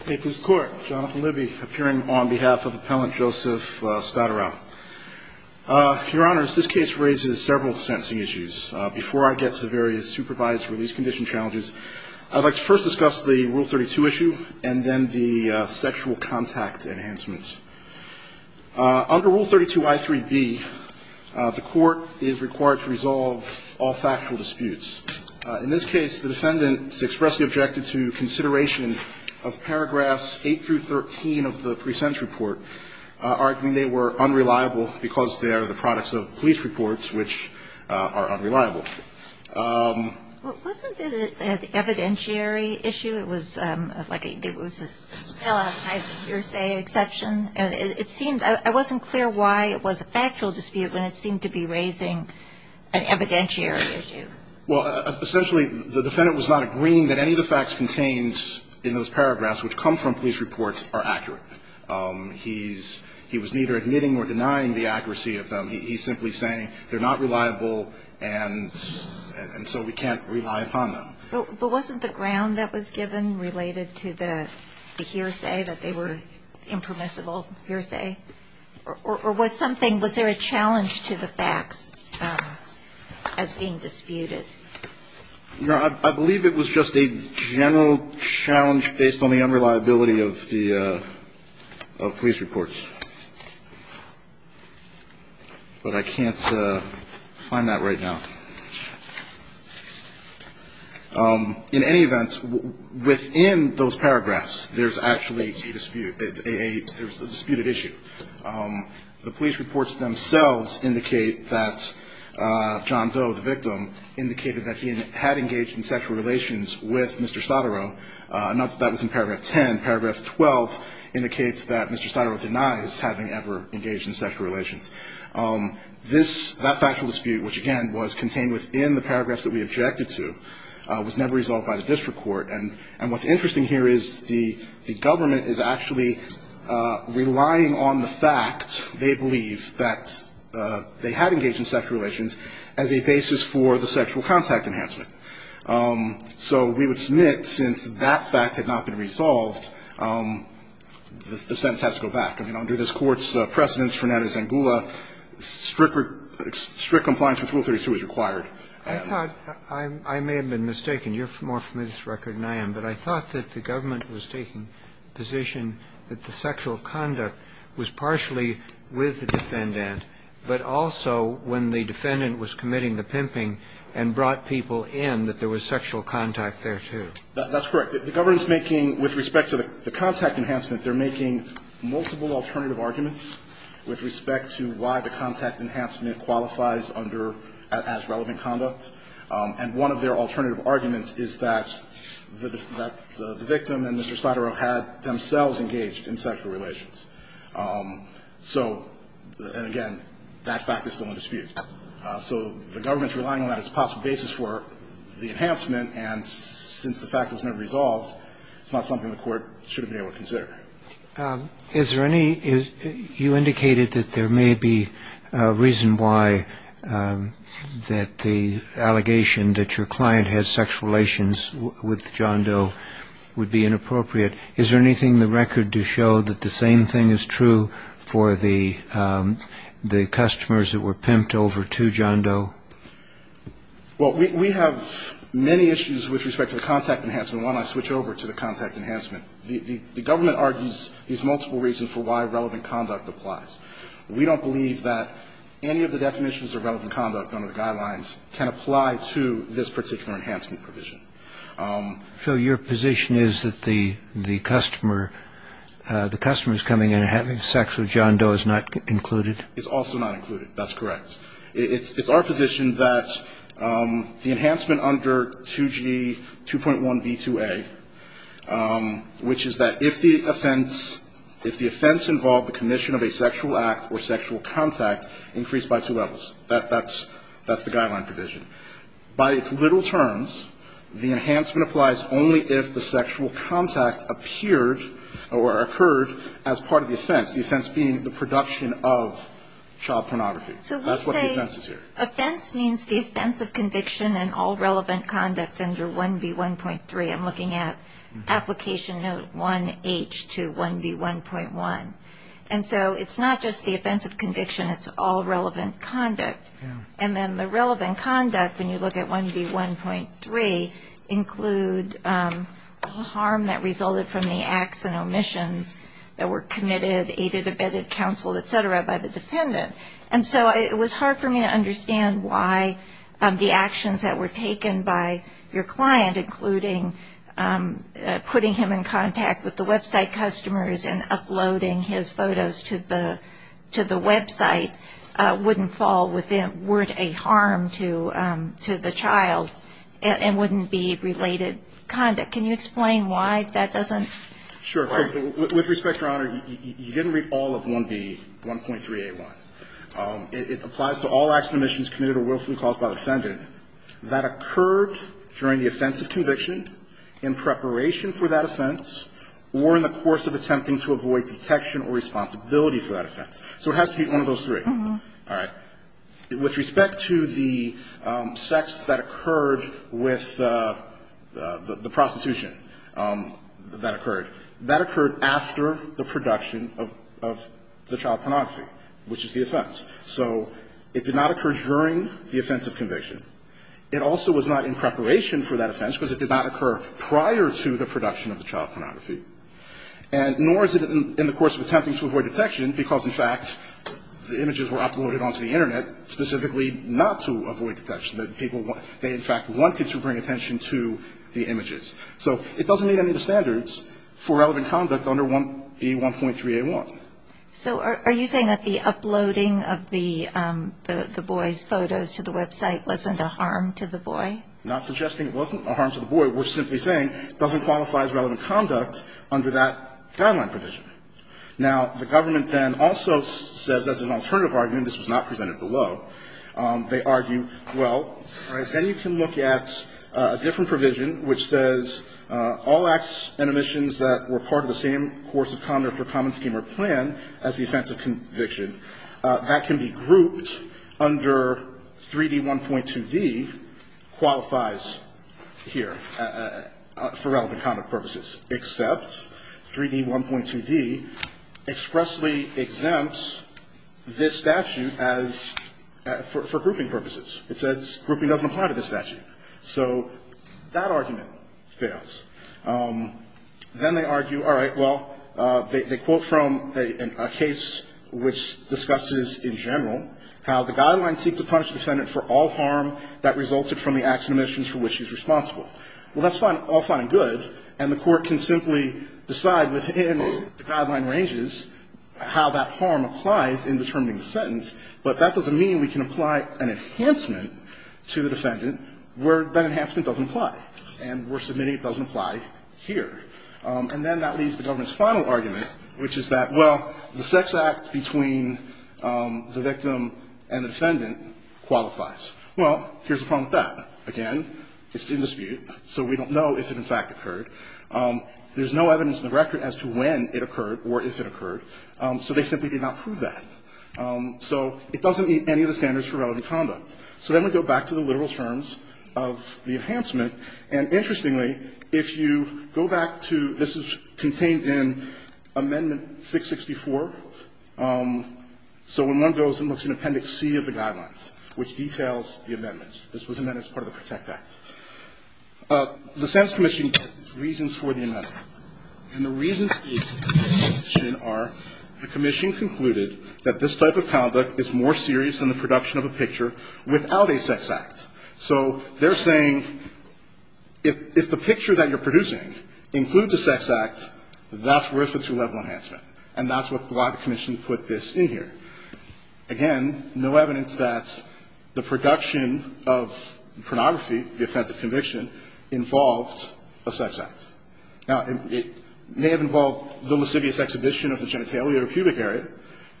Appeals Court, Jonathan Libby, appearing on behalf of Appellant Joseph Stoterau. Your Honors, this case raises several sentencing issues. Before I get to the various supervised release condition challenges, I'd like to first discuss the Rule 32 issue and then the sexual contact enhancements. Under Rule 32 I3B, the Court is required to resolve all factual disputes. In this case, the defendant is expressly objected to consideration of paragraphs 8 through 13 of the present report, arguing they were unreliable because they are the products of police reports, which are unreliable. Wasn't it an evidentiary issue? It was like it was an LSI hearsay exception. It seemed – I wasn't clear why it was a factual dispute when it seemed to be raising an evidentiary issue. Well, essentially, the defendant was not agreeing that any of the facts contained in those paragraphs, which come from police reports, are accurate. He's – he was neither admitting or denying the accuracy of them. He's simply saying they're not reliable and so we can't rely upon them. But wasn't the ground that was given related to the hearsay, that they were impermissible hearsay? Or was something – was there a challenge to the facts as being disputed? No. I believe it was just a general challenge based on the unreliability of the police reports. But I can't find that right now. In any event, within those paragraphs, there's actually a dispute – there's a disputed issue. The police reports themselves indicate that John Doe, the victim, indicated that he had engaged in sexual relations with Mr. Stottero. Not that that was in paragraph 10. Paragraph 12 indicates that Mr. Stottero denies having ever engaged in sexual relations. That factual dispute, which, again, was contained within the paragraphs that we objected to, was never resolved by the district court. And what's interesting here is the government is actually relying on the fact they believe that they had engaged in sexual relations as a basis for the sexual contact enhancement. So we would submit, since that fact had not been resolved, the sentence has to go back. Under this Court's precedence, Fernanda Zangula, strict compliance with Rule 32 is required. I thought – I may have been mistaken. You're more familiar with this record than I am. But I thought that the government was taking position that the sexual conduct was partially with the defendant, but also when the defendant was committing the pimping and brought people in, that there was sexual contact there, too. That's correct. The government's making – with respect to the contact enhancement, they're making multiple alternative arguments with respect to why the contact enhancement qualifies under – as relevant to sexual conduct. And one of their alternative arguments is that the victim and Mr. Stiderow had themselves engaged in sexual relations. So – and, again, that fact is still in dispute. So the government's relying on that as a possible basis for the enhancement, and since the fact was never resolved, it's not something the Court should have been able to consider. Is there any – you indicated that there may be a reason why that the allegation that your client has sexual relations with John Doe would be inappropriate. Is there anything in the record to show that the same thing is true for the customers that were pimped over to John Doe? Well, we have many issues with respect to the contact enhancement. Why don't I switch over to the contact enhancement? The government argues there's multiple reasons for why relevant conduct applies. We don't believe that any of the definitions of relevant conduct under the guidelines can apply to this particular enhancement provision. So your position is that the customer is coming in and having sex with John Doe is not included? It's also not included. That's correct. It's our position that the enhancement under 2G 2.1b2a, which is that if the offense – if the offense involved the commission of a sexual act or sexual contact increased by two levels, that's the guideline provision. By its literal terms, the enhancement applies only if the sexual contact appeared or occurred as part of the offense, the offense being the production of child pornography. That's what the offense is here. So we say offense means the offense of conviction and all relevant conduct under 1B1.3. I'm looking at application note 1H to 1B1.1. And so it's not just the offense of conviction. It's all relevant conduct. And then the relevant conduct, when you look at 1B1.3, include harm that resulted from the acts and omissions that were committed, aided, abetted, counseled, et cetera, by the defendant. And so it was hard for me to understand why the actions that were taken by your client, including putting him in contact with the website customers and uploading his photos to the website wouldn't fall within – weren't a harm to the child and wouldn't be related conduct. Can you explain why that doesn't work? With respect, Your Honor, you didn't read all of 1B1.381. It applies to all acts and omissions committed or willfully caused by the defendant that occurred during the offense of conviction, in preparation for that offense, or in the course of attempting to avoid detection or responsibility for that offense. So it has to be one of those three. All right. With respect to the sex that occurred with the prostitution that occurred, that occurred after the production of the child pornography, which is the offense. So it did not occur during the offense of conviction. It also was not in preparation for that offense because it did not occur prior to the production of the child pornography. And nor is it in the course of attempting to avoid detection because, in fact, the images were uploaded onto the Internet specifically not to avoid detection, that people – they, in fact, wanted to bring attention to the images. So it doesn't meet any of the standards for relevant conduct under 1B1.381. So are you saying that the uploading of the boy's photos to the website wasn't a harm to the boy? I'm not suggesting it wasn't a harm to the boy. We're simply saying it doesn't qualify as relevant conduct under that guideline provision. Now, the government then also says, as an alternative argument, this was not presented below, they argue, well, then you can look at a different provision which says all acts and omissions that were part of the same course of conduct or common scheme or plan as the offense of conviction, that can be grouped under 3D1.2d qualifies here for relevant conduct purposes, except 3D1.2d expressly exempts this statute as – for grouping purposes. It says grouping doesn't apply to this statute. So that argument fails. Then they argue, all right, well, they quote from a case which discusses in general how the guideline seeks to punish the defendant for all harm that resulted from the acts and omissions for which she's responsible. Well, that's all fine and good, and the Court can simply decide within the guideline ranges how that harm applies in determining the sentence, but that doesn't mean we can apply an enhancement to the defendant where that enhancement doesn't apply and where submitting it doesn't apply here. And then that leaves the government's final argument, which is that, well, the sex act between the victim and the defendant qualifies. Well, here's the problem with that. Again, it's in dispute, so we don't know if it in fact occurred. There's no evidence in the record as to when it occurred or if it occurred, so they simply did not prove that. So it doesn't meet any of the standards for relevant conduct. So then we go back to the literal terms of the enhancement, and interestingly, if you go back to this is contained in Amendment 664. So when one goes and looks in Appendix C of the guidelines, which details the amendments, this was amended as part of the Protect Act. The Senate's commission gets its reasons for the amendment. And the reasons for the amendment are the commission concluded that this type of conduct is more serious than the production of a picture without a sex act. So they're saying if the picture that you're producing includes a sex act, that's worth a two-level enhancement, and that's why the commission put this in here. Again, no evidence that the production of pornography, the offensive conviction, involved a sex act. Now, it may have involved the lascivious exhibition of the genitalia or pubic area,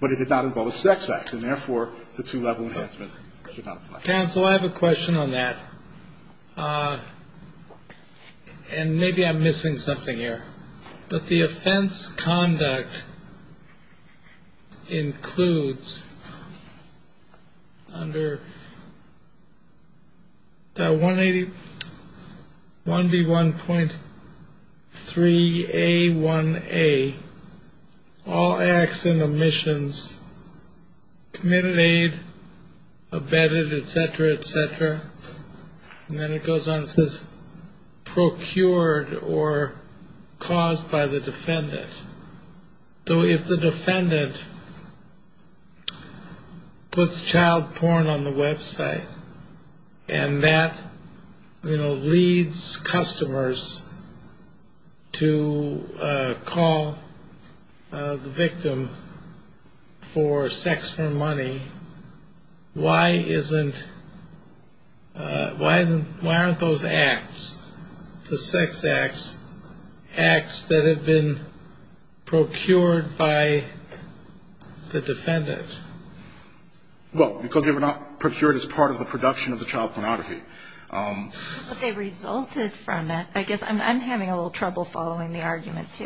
but it did not involve a sex act, and therefore the two-level enhancement should not apply. Counsel, I have a question on that, and maybe I'm missing something here. But the offense conduct includes under that 1B1.3A1A, all acts and omissions committed, abetted, et cetera, et cetera. And then it goes on and says, procured or caused by the defendant. So if the defendant puts child porn on the website and that leads customers to call the victim for sex for money, why isn't why aren't those acts, the sex acts, acts that have been procured by the defendant? Well, because they were not procured as part of the production of the child pornography. But they resulted from it. I guess I'm having a little trouble following the argument, too.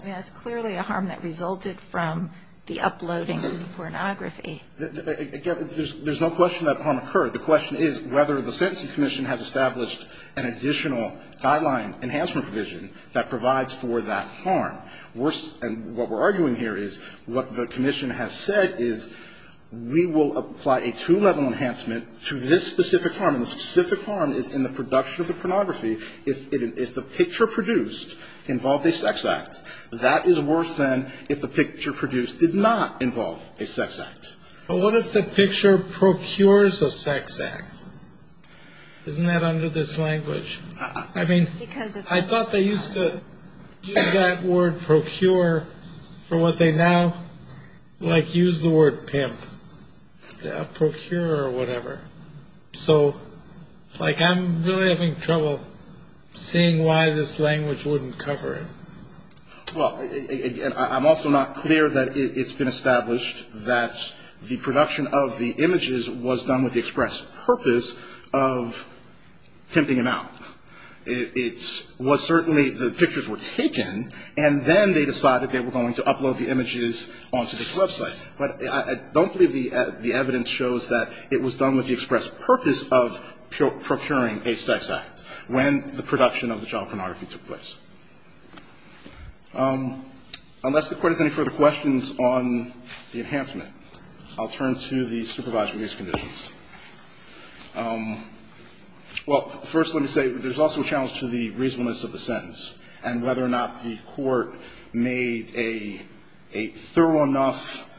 I mean, that's clearly a harm that resulted from the uploading of the pornography. Again, there's no question that harm occurred. The question is whether the sentencing commission has established an additional guideline enhancement provision that provides for that harm. And what we're arguing here is what the commission has said is we will apply a two-level enhancement to this specific harm, and the specific harm is in the production of the pornography. If the picture produced involved a sex act, that is worse than if the picture produced did not involve a sex act. But what if the picture procures a sex act? Isn't that under this language? I mean, I thought they used to use that word procure for what they now, like, use the word pimp. Procure or whatever. So, like, I'm really having trouble seeing why this language wouldn't cover it. Well, I'm also not clear that it's been established that the production of the images was done with the express purpose of pimping them out. It was certainly the pictures were taken, and then they decided they were going to upload the images onto this website. But I don't believe the evidence shows that it was done with the express purpose of procuring a sex act when the production of the child pornography took place. Unless the Court has any further questions on the enhancement, I'll turn to the supervised release conditions. Well, first let me say there's also a challenge to the reasonableness of the sentence and whether or not the Court made a thorough enough,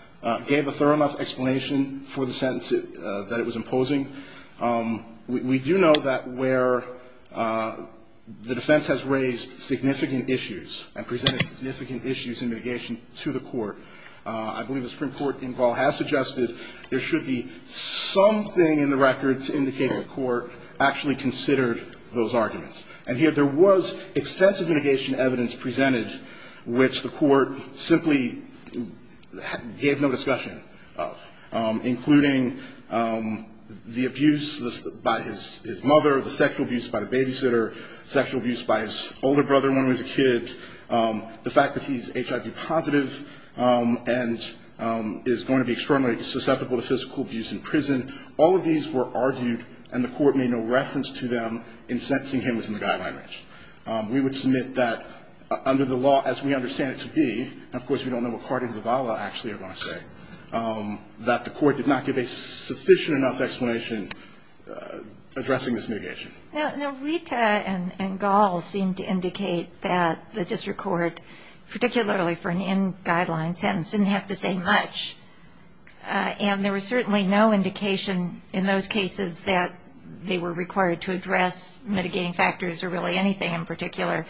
gave a thorough enough explanation for the sentence that it was imposing. We do know that where the defense has raised significant issues and presented significant issues in mitigation to the Court, I believe the Supreme Court in Gaul has suggested there should be something in the records indicating the Court actually considered those arguments. And yet there was extensive mitigation evidence presented which the Court simply gave no discussion of, including the abuse by his mother, the sexual abuse by the babysitter, sexual abuse by his older brother when he was a kid, the fact that he's HIV positive and is going to be externally susceptible to physical abuse in prison. All of these were argued and the Court made no reference to them in sentencing him within the guideline range. We would submit that under the law as we understand it to be, and of course we don't know what Cardin and Zavala actually are going to say, that the Court did not give a sufficient enough explanation addressing this mitigation. Now, Rita and Gaul seem to indicate that the district court, particularly for an in-guideline sentence, didn't have to say much. And there was certainly no indication in those cases that they were required to address mitigating factors or really anything in particular.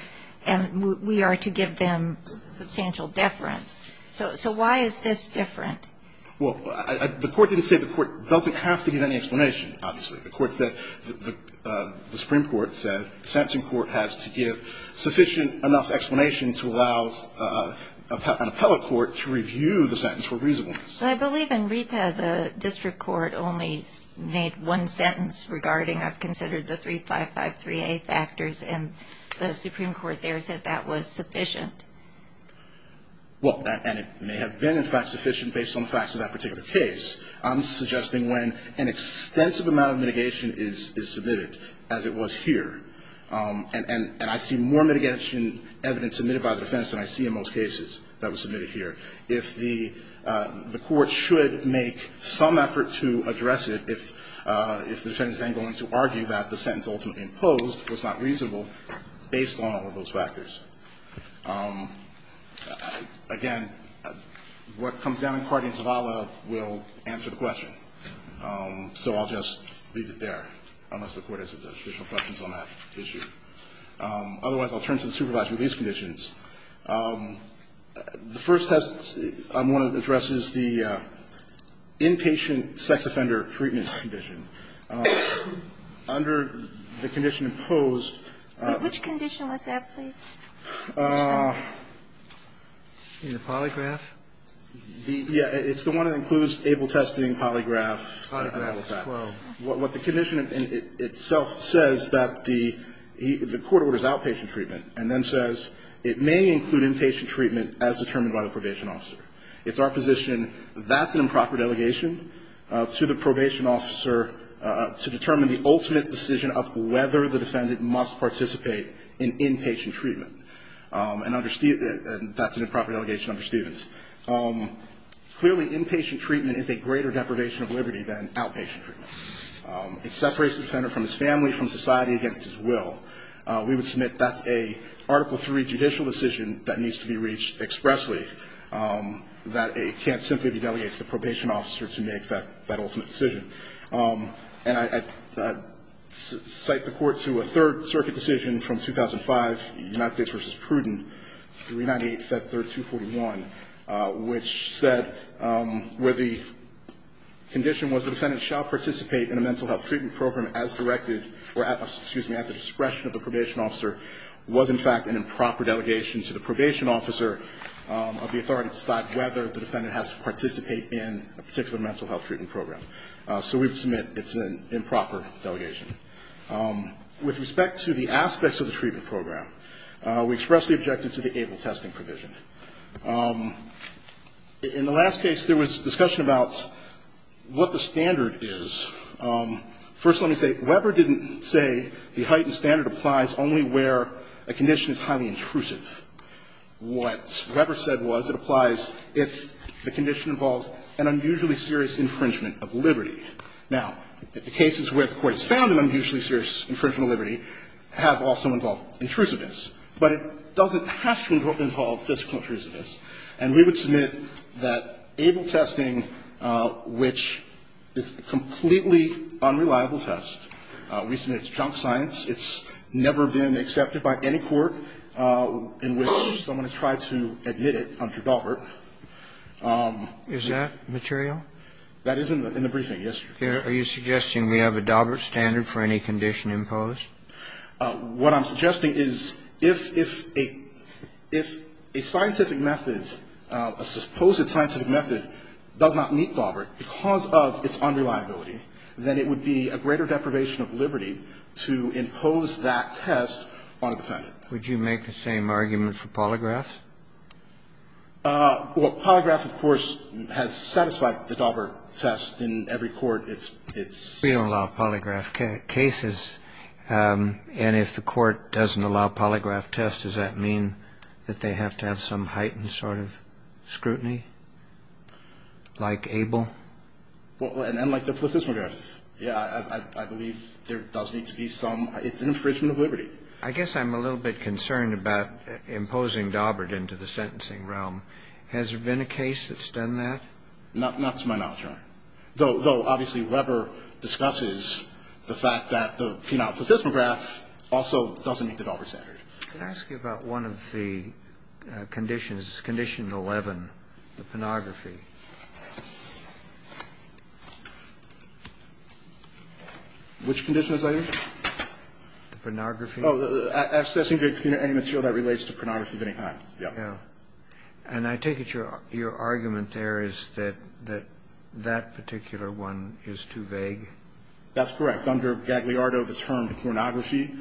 And we are to give them substantial deference. So why is this different? Well, the Court didn't say the Court doesn't have to give any explanation, obviously. The Supreme Court said the sentencing court has to give sufficient enough explanation to allow an appellate court to review the sentence for reasonableness. I believe in Rita the district court only made one sentence regarding, I've considered the 3553A factors, and the Supreme Court there said that was sufficient. Well, and it may have been, in fact, sufficient based on the facts of that particular case. I'm suggesting when an extensive amount of mitigation is submitted, as it was here, and I see more mitigation evidence submitted by the defense than I see in most cases that was submitted here, if the court should make some effort to address it if the defendant is then going to argue that the sentence ultimately imposed was not reasonable based on all of those factors. Again, what comes down in Cardia and Zavala will answer the question. So I'll just leave it there, unless the Court has additional questions on that issue. Otherwise, I'll turn to the supervisory release conditions. The first test I want to address is the inpatient sex offender treatment condition. Under the condition imposed. Which condition was that, please? In the polygraph? Yeah, it's the one that includes able testing, polygraph. What the condition itself says that the court orders outpatient treatment and then says it may include inpatient treatment as determined by the probation officer. It's our position that's an improper delegation to the probation officer to determine the ultimate decision of whether the defendant must participate in inpatient treatment. And that's an improper delegation under Stevens. Clearly, inpatient treatment is a greater deprivation of liberty than outpatient treatment. It separates the defendant from his family, from society, against his will. We would submit that's an Article III judicial decision that needs to be reached expressly, that it can't simply be delegated to the probation officer to make that ultimate decision. And I cite the Court to a Third Circuit decision from 2005, the United States v. Pruden, 398 Fed 3241, which said where the condition was the defendant shall participate in a mental health treatment program as directed, or at the discretion of the probation officer, was in fact an improper delegation to the probation officer of the authority to decide whether the defendant has to participate in a particular mental health treatment program. So we would submit it's an improper delegation. With respect to the aspects of the treatment program, we express the objective to the able testing provision. In the last case, there was discussion about what the standard is. First, let me say, Weber didn't say the heightened standard applies only where a condition is highly intrusive. What Weber said was it applies if the condition involves an unusually serious infringement of liberty. Now, the cases where the Court has found an unusually serious infringement of liberty have also involved intrusiveness, but it doesn't have to involve physical intrusiveness. And we would submit that able testing, which is a completely unreliable test, we submit it's junk science, it's never been accepted by any court in which someone has tried to admit it under Daubert. Is that material? That is in the briefing, yes. Kennedy, are you suggesting we have a Daubert standard for any condition imposed? What I'm suggesting is if a scientific method, a supposed scientific method, does not meet Daubert because of its unreliability, then it would be a greater deprivation of liberty to impose that test on a defendant. Would you make the same argument for Polygraph? Well, Polygraph, of course, has satisfied the Daubert test in every court. We don't allow Polygraph cases. And if the Court doesn't allow Polygraph tests, does that mean that they have to have some heightened sort of scrutiny, like ABLE? And like the Placismograph. Yeah, I believe there does need to be some. It's an infringement of liberty. I guess I'm a little bit concerned about imposing Daubert into the sentencing realm. Has there been a case that's done that? Not to my knowledge, Your Honor. Though, obviously, Weber discusses the fact that the penile Placismograph also doesn't meet the Daubert standard. Can I ask you about one of the conditions, Condition 11, the pornography? Which conditions are you? The pornography? Accessing to any material that relates to pornography of any kind. Yeah. And I take it your argument there is that that particular one is too vague? That's correct. Under Gagliardo, the term pornography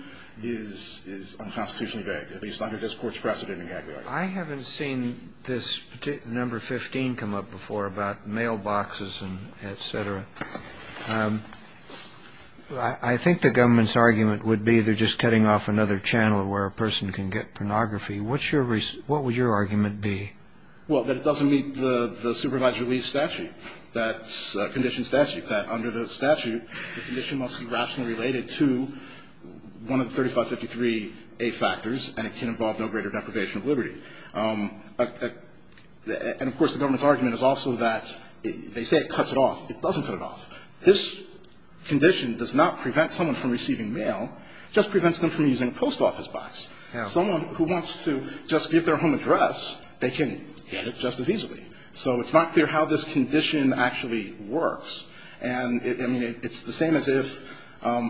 is unconstitutionally vague, at least under this Court's precedent in Gagliardo. I haven't seen this number 15 come up before about mailboxes and et cetera. I think the government's argument would be they're just cutting off another channel where a person can get pornography. What would your argument be? Well, that it doesn't meet the supervised release statute, that condition statute, that under the statute the condition must be rationally related to one of the 3553A factors, and it can involve no greater deprivation of liberty. And, of course, the government's argument is also that they say it cuts it off. It doesn't cut it off. This condition does not prevent someone from receiving mail, just prevents them from using a post office box. Someone who wants to just give their home address, they can get it just as easily. So it's not clear how this condition actually works. And, I mean, it's the same as if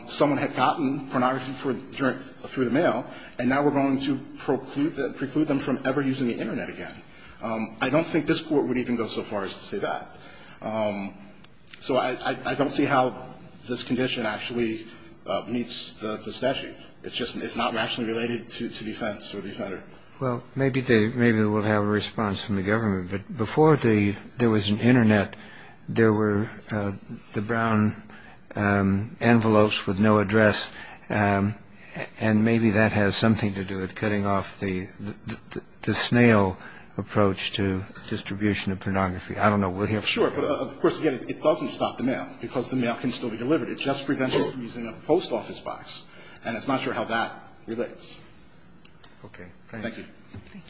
someone had gotten pornography through the mail, and now we're going to preclude them from ever using the Internet again. I don't think this Court would even go so far as to say that. So I don't see how this condition actually meets the statute. It's not rationally related to defense or the offender. Well, maybe they will have a response from the government. But before there was an Internet, there were the brown envelopes with no address, and maybe that has something to do with cutting off the snail approach to distribution of pornography. I don't know. Sure. But, of course, again, it doesn't stop the mail because the mail can still be delivered. It just prevents them from using a post office box. And it's not sure how that relates. Okay. Thank you. Thank you.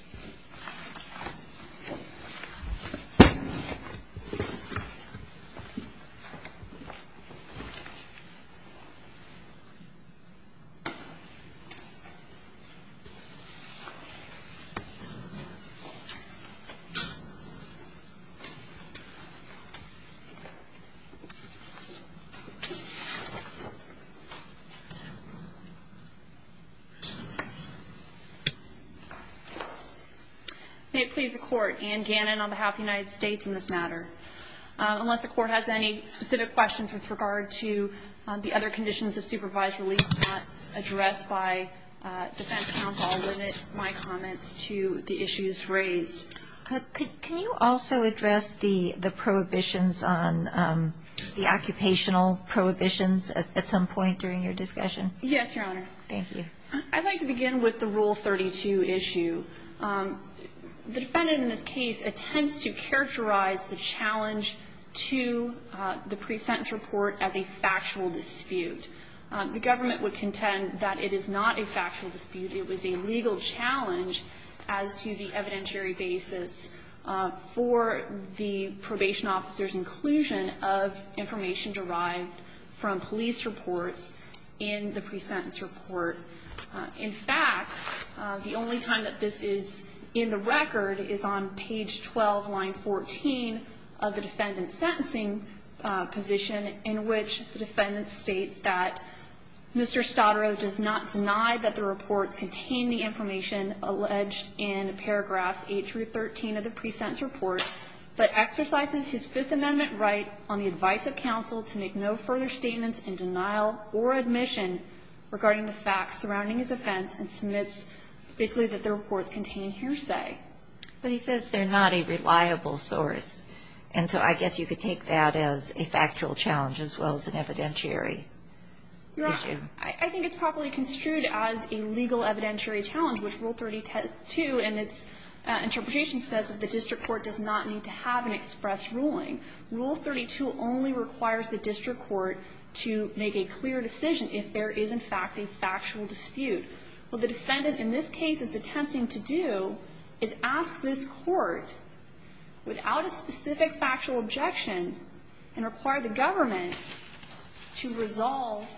May it please the Court. Anne Gannon on behalf of the United States in this matter. Unless the Court has any specific questions with regard to the other conditions of supervised release not addressed by defense counsel, I'll limit my comments to the issues raised. Can you also address the prohibitions on the occupational prohibitions at some point during your discussion? Yes, Your Honor. Thank you. I'd like to begin with the Rule 32 issue. The defendant in this case attempts to characterize the challenge to the pre-sentence report as a factual dispute. The government would contend that it is not a factual dispute. It was a legal challenge as to the evidentiary basis for the probation officer's inclusion of information derived from police reports in the pre-sentence report. In fact, the only time that this is in the record is on page 12, line 14 of the defendant's sentencing position, in which the defendant states that Mr. Stottero does not deny that the reports contain the information alleged in paragraphs 8 through 13 of the pre-sentence report, but exercises his Fifth Amendment right on the advice of counsel to make no further statements in denial or admission regarding the facts surrounding his offense and submits quickly that the reports contain hearsay. But he says they're not a reliable source, and so I guess you could take that as a factual challenge as well as an evidentiary issue. Yeah. I think it's properly construed as a legal evidentiary challenge, which Rule 32 in its interpretation says that the district court does not need to have an express ruling. Rule 32 only requires the district court to make a clear decision if there is, in fact, a factual dispute. What the defendant in this case is attempting to do is ask this court, without a specific factual objection, and require the government to resolve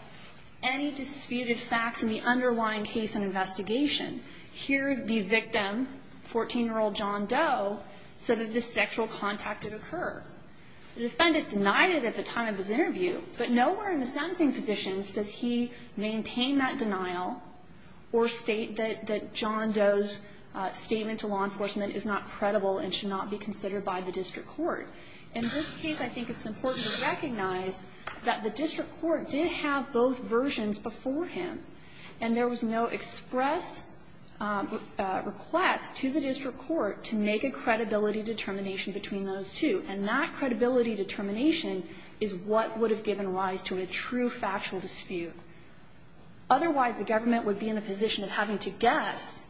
any disputed facts in the underlying case and investigation. Here the victim, 14-year-old John Doe, said that this sexual contact did occur. The defendant denied it at the time of his interview, but nowhere in the sentencing positions does he maintain that denial or state that John Doe's statement to law In this case, I think it's important to recognize that the district court did have both versions beforehand, and there was no express request to the district court to make a credibility determination between those two. And that credibility determination is what would have given rise to a true factual dispute. Otherwise, the government would be in the position of having to guess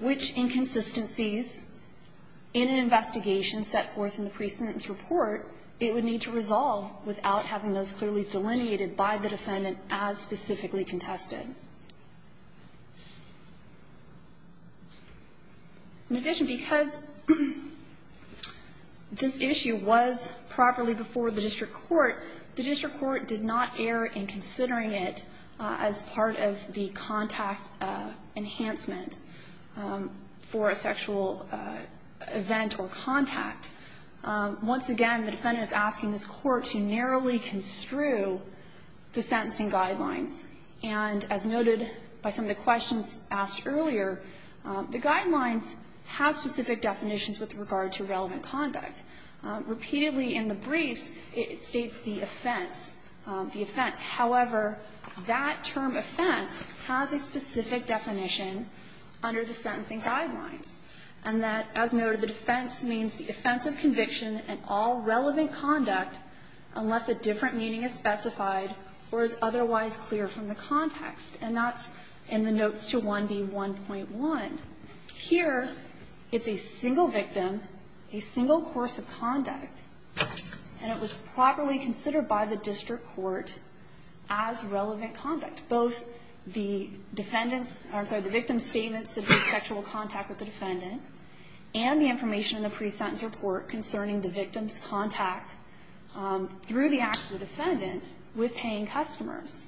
which inconsistencies in an investigation set forth in the precedent's report it would need to resolve without having those clearly delineated by the defendant as specifically contested. In addition, because this issue was properly before the district court, the district court did not err in considering it as part of the contact enhancement for a sexual event or contact. Once again, the defendant is asking this Court to narrowly construe the sentencing guidelines. And as noted by some of the questions asked earlier, the guidelines have specific definitions with regard to relevant conduct. Repeatedly in the briefs, it states the offense, the offense. However, that term offense has a specific definition under the sentencing guidelines. And that, as noted, the defense means the offense of conviction and all relevant conduct unless a different meaning is specified or is otherwise clear from the context. And that's in the notes to 1B1.1. Here, it's a single victim, a single course of conduct, and it was properly considered by the district court as relevant conduct. Both the defendant's or, I'm sorry, the victim's statements of sexual contact with the defendant and the information in the pre-sentence report concerning the victim's contact through the acts of the defendant with paying customers,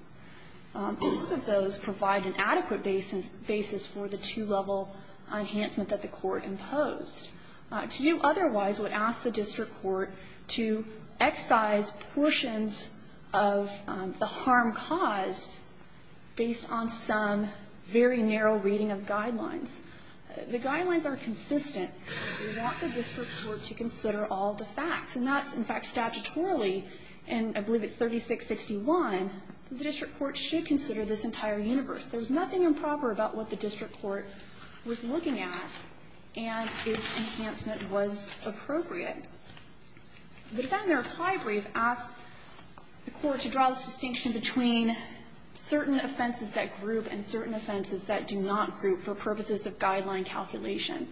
both of those provide an adequate basis for the two-level enhancement that the court imposed. To do otherwise would ask the district court to excise portions of the harm caused based on some very narrow reading of guidelines. The guidelines are consistent. We want the district court to consider all the facts. And that's, in fact, statutorily, and I believe it's 3661, the district court should consider this entire universe. There's nothing improper about what the district court was looking at and its enhancement was appropriate. The Defendant Reply Brief asks the court to draw this distinction between certain offenses that group and certain offenses that do not group for purposes of guideline calculation.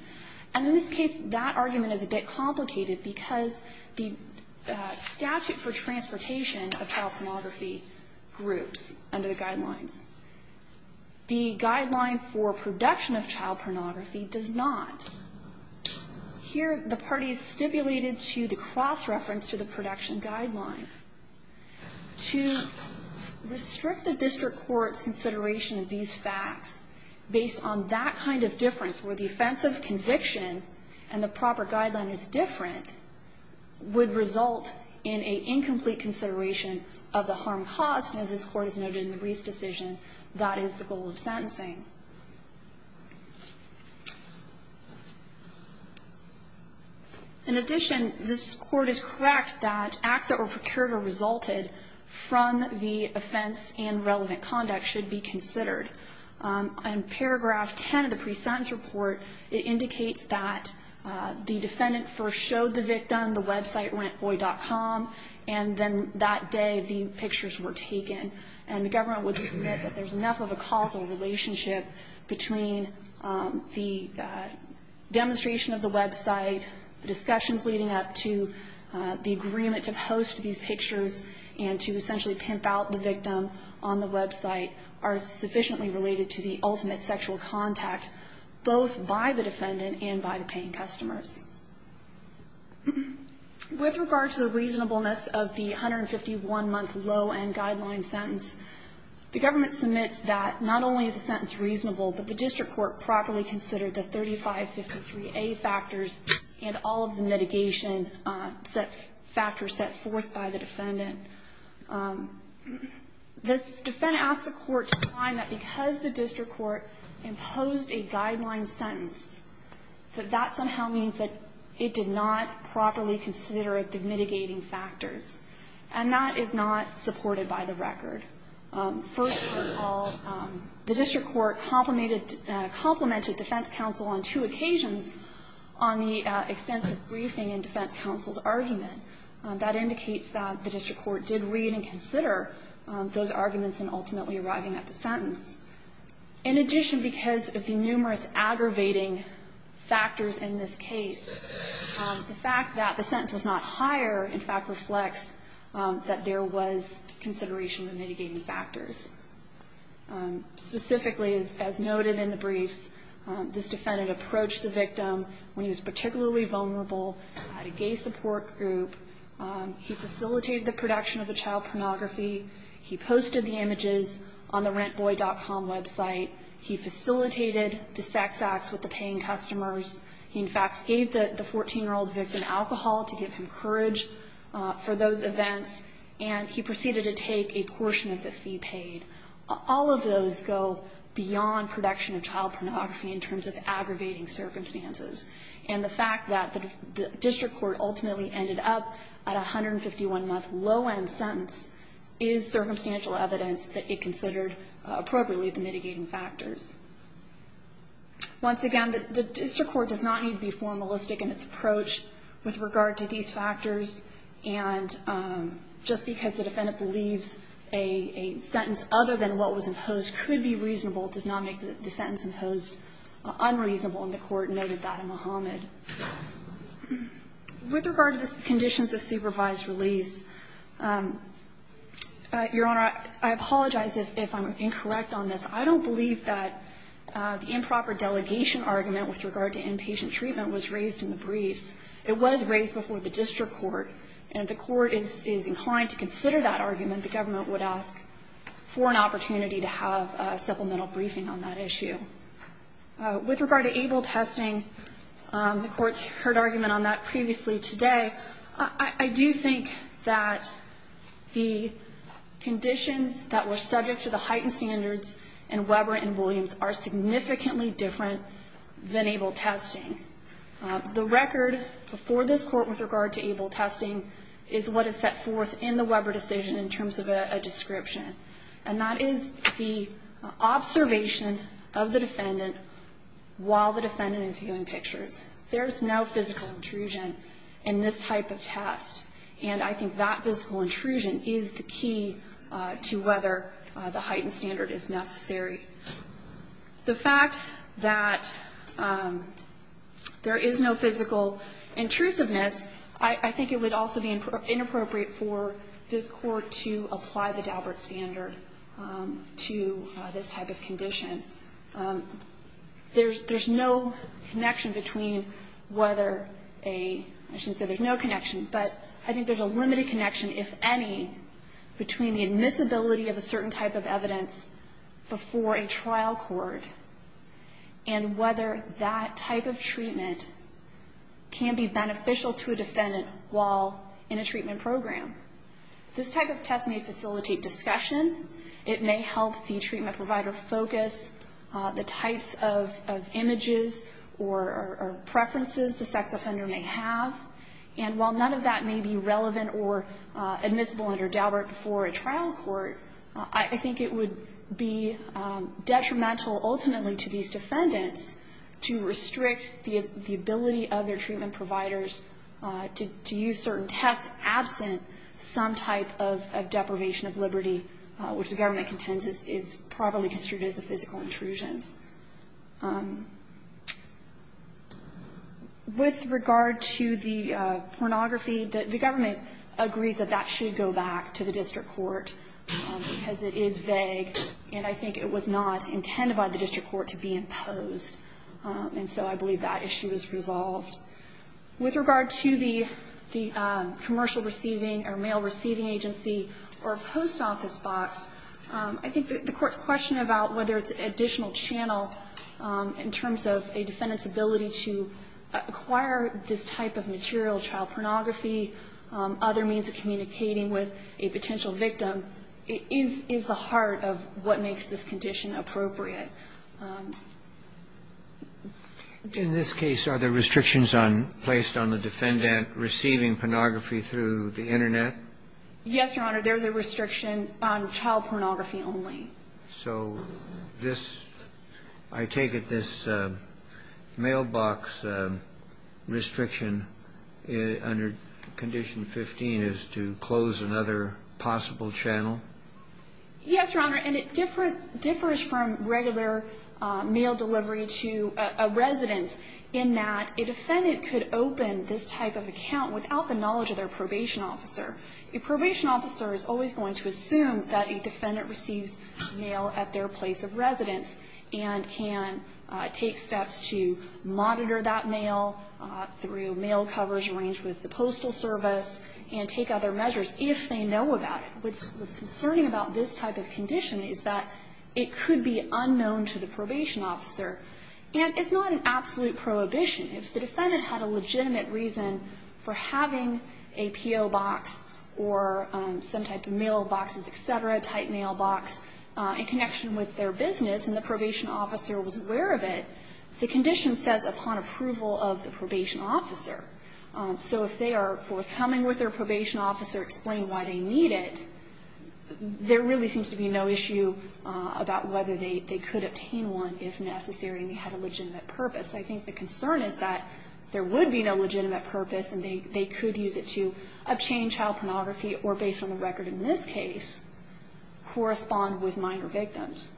And in this case, that argument is a bit complicated because the statute for transportation of child pornography groups under the guidelines. The guideline for production of child pornography does not. Here, the parties stipulated to the cross-reference to the production guideline. To restrict the district court's consideration of these facts based on that kind of difference where the offense of conviction and the proper guideline is different would result in an incomplete consideration of the harm caused. And as this court has noted in the Reese decision, that is the goal of sentencing. In addition, this court is correct that acts that were procured or resulted from the offense and relevant conduct should be considered. In paragraph 10 of the pre-sentence report, it indicates that the defendant first showed the victim. The website went boy.com, and then that day the pictures were taken. And the government would submit that there's enough of a causal relationship between the demonstration of the website, discussions leading up to the agreement to post these pictures, and to essentially pimp out the victim on the website, are sufficiently related to the ultimate sexual contact, both by the defendant and by the paying customers. With regard to the reasonableness of the 151-month low-end guideline sentence, the government submits that not only is the sentence reasonable, but the district court properly considered the 3553A factors and all of the mitigation factors set forth by the defendant. The defendant asked the court to find that because the district court imposed a guideline sentence, that that somehow means that it did not properly consider the mitigating factors. And that is not supported by the record. First of all, the district court complemented defense counsel on two occasions on the extensive briefing in defense counsel's argument. That indicates that the district court did read and consider those arguments in ultimately arriving at the sentence. In addition, because of the numerous aggravating factors in this case, the fact that the sentence was not higher, in fact, reflects that there was consideration of mitigating factors. Specifically, as noted in the briefs, this defendant approached the victim when he was particularly vulnerable, had a gay support group. He facilitated the production of the child pornography. He posted the images on the rentboy.com website. He facilitated the sex acts with the paying customers. He, in fact, gave the 14-year-old victim alcohol to give him courage for those events. And he proceeded to take a portion of the fee paid. All of those go beyond production of child pornography in terms of aggravating circumstances. And the fact that the district court ultimately ended up at a 151-month low-end sentence is circumstantial evidence that it considered appropriately the mitigating factors. Once again, the district court does not need to be formalistic in its approach with regard to these factors. And just because the defendant believes a sentence other than what was imposed could be reasonable does not make the sentence imposed unreasonable. And the Court noted that in Muhammad. With regard to the conditions of supervised release, Your Honor, I apologize if I'm incorrect on this. I don't believe that the improper delegation argument with regard to inpatient treatment was raised in the briefs. It was raised before the district court. And if the court is inclined to consider that argument, the government would ask for an opportunity to have a supplemental briefing on that issue. With regard to ABLE testing, the Court's heard argument on that previously today. I do think that the conditions that were subject to the heightened standards and Weber and Williams are significantly different than ABLE testing. The record before this Court with regard to ABLE testing is what is set forth in the Weber decision in terms of a description. And that is the observation of the defendant while the defendant is viewing pictures. There is no physical intrusion in this type of test. And I think that physical intrusion is the key to whether the heightened standard is necessary. The fact that there is no physical intrusiveness, I think it would also be inappropriate for this Court to apply the Daubert standard to this type of condition. There's no connection between whether a – I shouldn't say there's no connection, but I think there's a limited connection, if any, between the admissibility of a certain type of evidence before a trial court and whether that type of treatment can be beneficial to a defendant while in a treatment program. This type of test may facilitate discussion. It may help the treatment provider focus the types of images or preferences the sex offender may have. And while none of that may be relevant or admissible under Daubert before a trial court, I think it would be detrimental ultimately to these defendants to restrict the ability of their treatment providers to use certain tests absent some type of deprivation of liberty, which the government contends is probably construed as a physical intrusion. With regard to the pornography, the government agrees that that should go back to the district court because it is vague, and I think it was not intended by the district court to be imposed. And so I believe that issue is resolved. With regard to the commercial receiving or mail receiving agency or post office I think the Court's question about whether it's additional channel in terms of a defendant's ability to acquire this type of material, child pornography, other means of communicating with a potential victim, is the heart of what makes this condition appropriate. In this case, are there restrictions placed on the defendant receiving pornography through the Internet? Yes, Your Honor. There's a restriction on child pornography only. So this, I take it this mailbox restriction under Condition 15 is to close another possible channel? Yes, Your Honor. And it differs from regular mail delivery to a residence in that a defendant could open this type of account without the knowledge of their probation officer. A probation officer is always going to assume that a defendant receives mail at their place of residence and can take steps to monitor that mail through mail covers arranged with the Postal Service and take other measures if they know about it. What's concerning about this type of condition is that it could be unknown to the probation officer. And it's not an absolute prohibition. If the defendant had a legitimate reason for having a P.O. box or some type of mailboxes, et cetera, type mailbox in connection with their business and the probation officer was aware of it, the condition says upon approval of the probation officer. So if they are forthcoming with their probation officer explaining why they need it, there really seems to be no issue about whether they could obtain one if necessary and they had a legitimate purpose. I think the concern is that there would be no legitimate purpose and they could use it to obtain child pornography or, based on the record in this case, correspond with minor victims.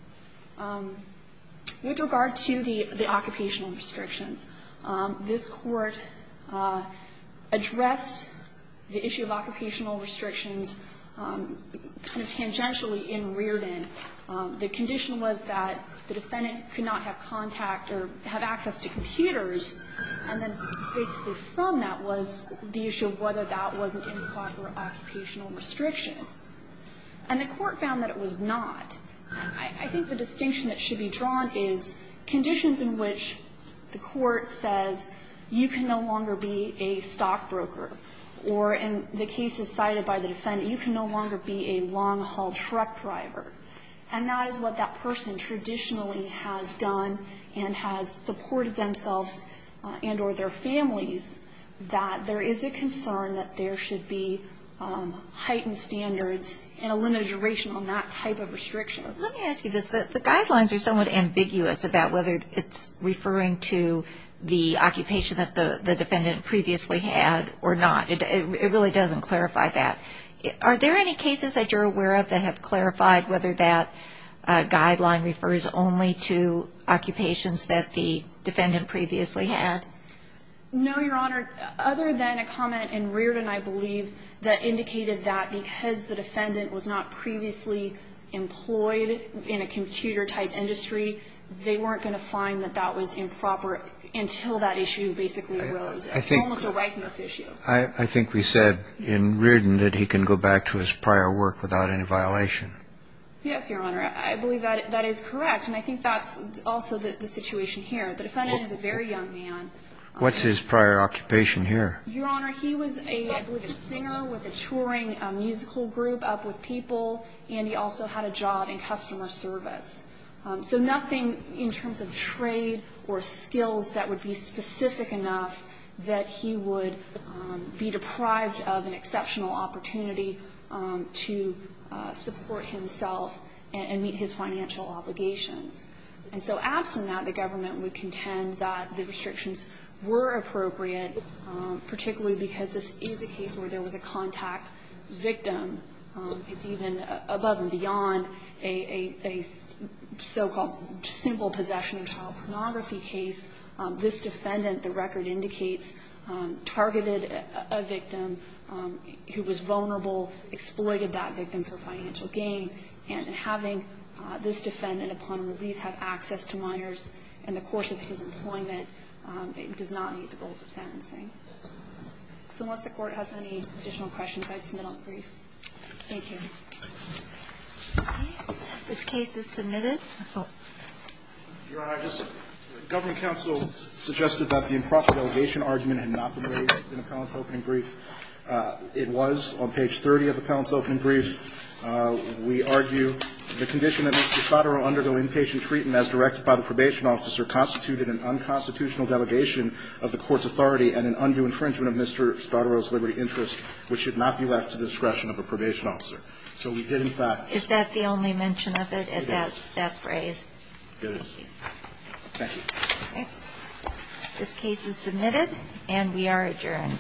With regard to the occupational restrictions, this Court addressed the issue of occupational restrictions kind of tangentially in Rearden. The condition was that the defendant could not have contact or have access to computers and then basically from that was the issue of whether that was an improper occupational restriction. And the Court found that it was not. I think the distinction that should be drawn is conditions in which the Court says you can no longer be a stockbroker or, in the cases cited by the defendant, you can no longer be a long-haul truck driver. And that is what that person traditionally has done and has supported themselves and or their families, that there is a concern that there should be heightened standards and a limited duration on that type of restriction. Let me ask you this. The guidelines are somewhat ambiguous about whether it's referring to the occupation that the defendant previously had or not. It really doesn't clarify that. Are there any cases that you're aware of that have clarified whether that guideline refers only to occupations that the defendant previously had? No, Your Honor. Other than a comment in Rearden, I believe, that indicated that because the defendant was not previously employed in a computer-type industry, they weren't going to find that that was improper until that issue basically arose. It's almost a whiteness issue. I think we said in Rearden that he can go back to his prior work without any violation. Yes, Your Honor. I believe that that is correct. And I think that's also the situation here. The defendant is a very young man. What's his prior occupation here? Your Honor, he was, I believe, a singer with a touring musical group up with people, and he also had a job in customer service. So nothing in terms of trade or skills that would be specific enough that he would be deprived of an exceptional opportunity to support himself and meet his financial obligations. And so absent that, the government would contend that the restrictions were appropriate, particularly because this is a case where there was a contact victim. It's even above and beyond a so-called simple possession of child pornography case. This defendant, the record indicates, targeted a victim who was vulnerable, exploited that victim for financial gain. And having this defendant upon release have access to minors in the course of his employment does not meet the goals of sentencing. So unless the Court has any additional questions, I'd submit all the briefs. Thank you. Okay. This case is submitted. Your Honor, I just the government counsel suggested that the improper delegation argument had not been raised in the appellant's opening brief. It was on page 30 of the appellant's opening brief. We argue the condition that Mr. Spadaro undergo inpatient treatment as directed by the probation officer constituted an unconstitutional delegation of the Court's authority and an undue infringement of Mr. Spadaro's liberty interest, which should not be left to the discretion of a probation officer. So we did in fact... Is that the only mention of it? It is. That phrase? It is. Thank you. Okay. This case is submitted and we are adjourned.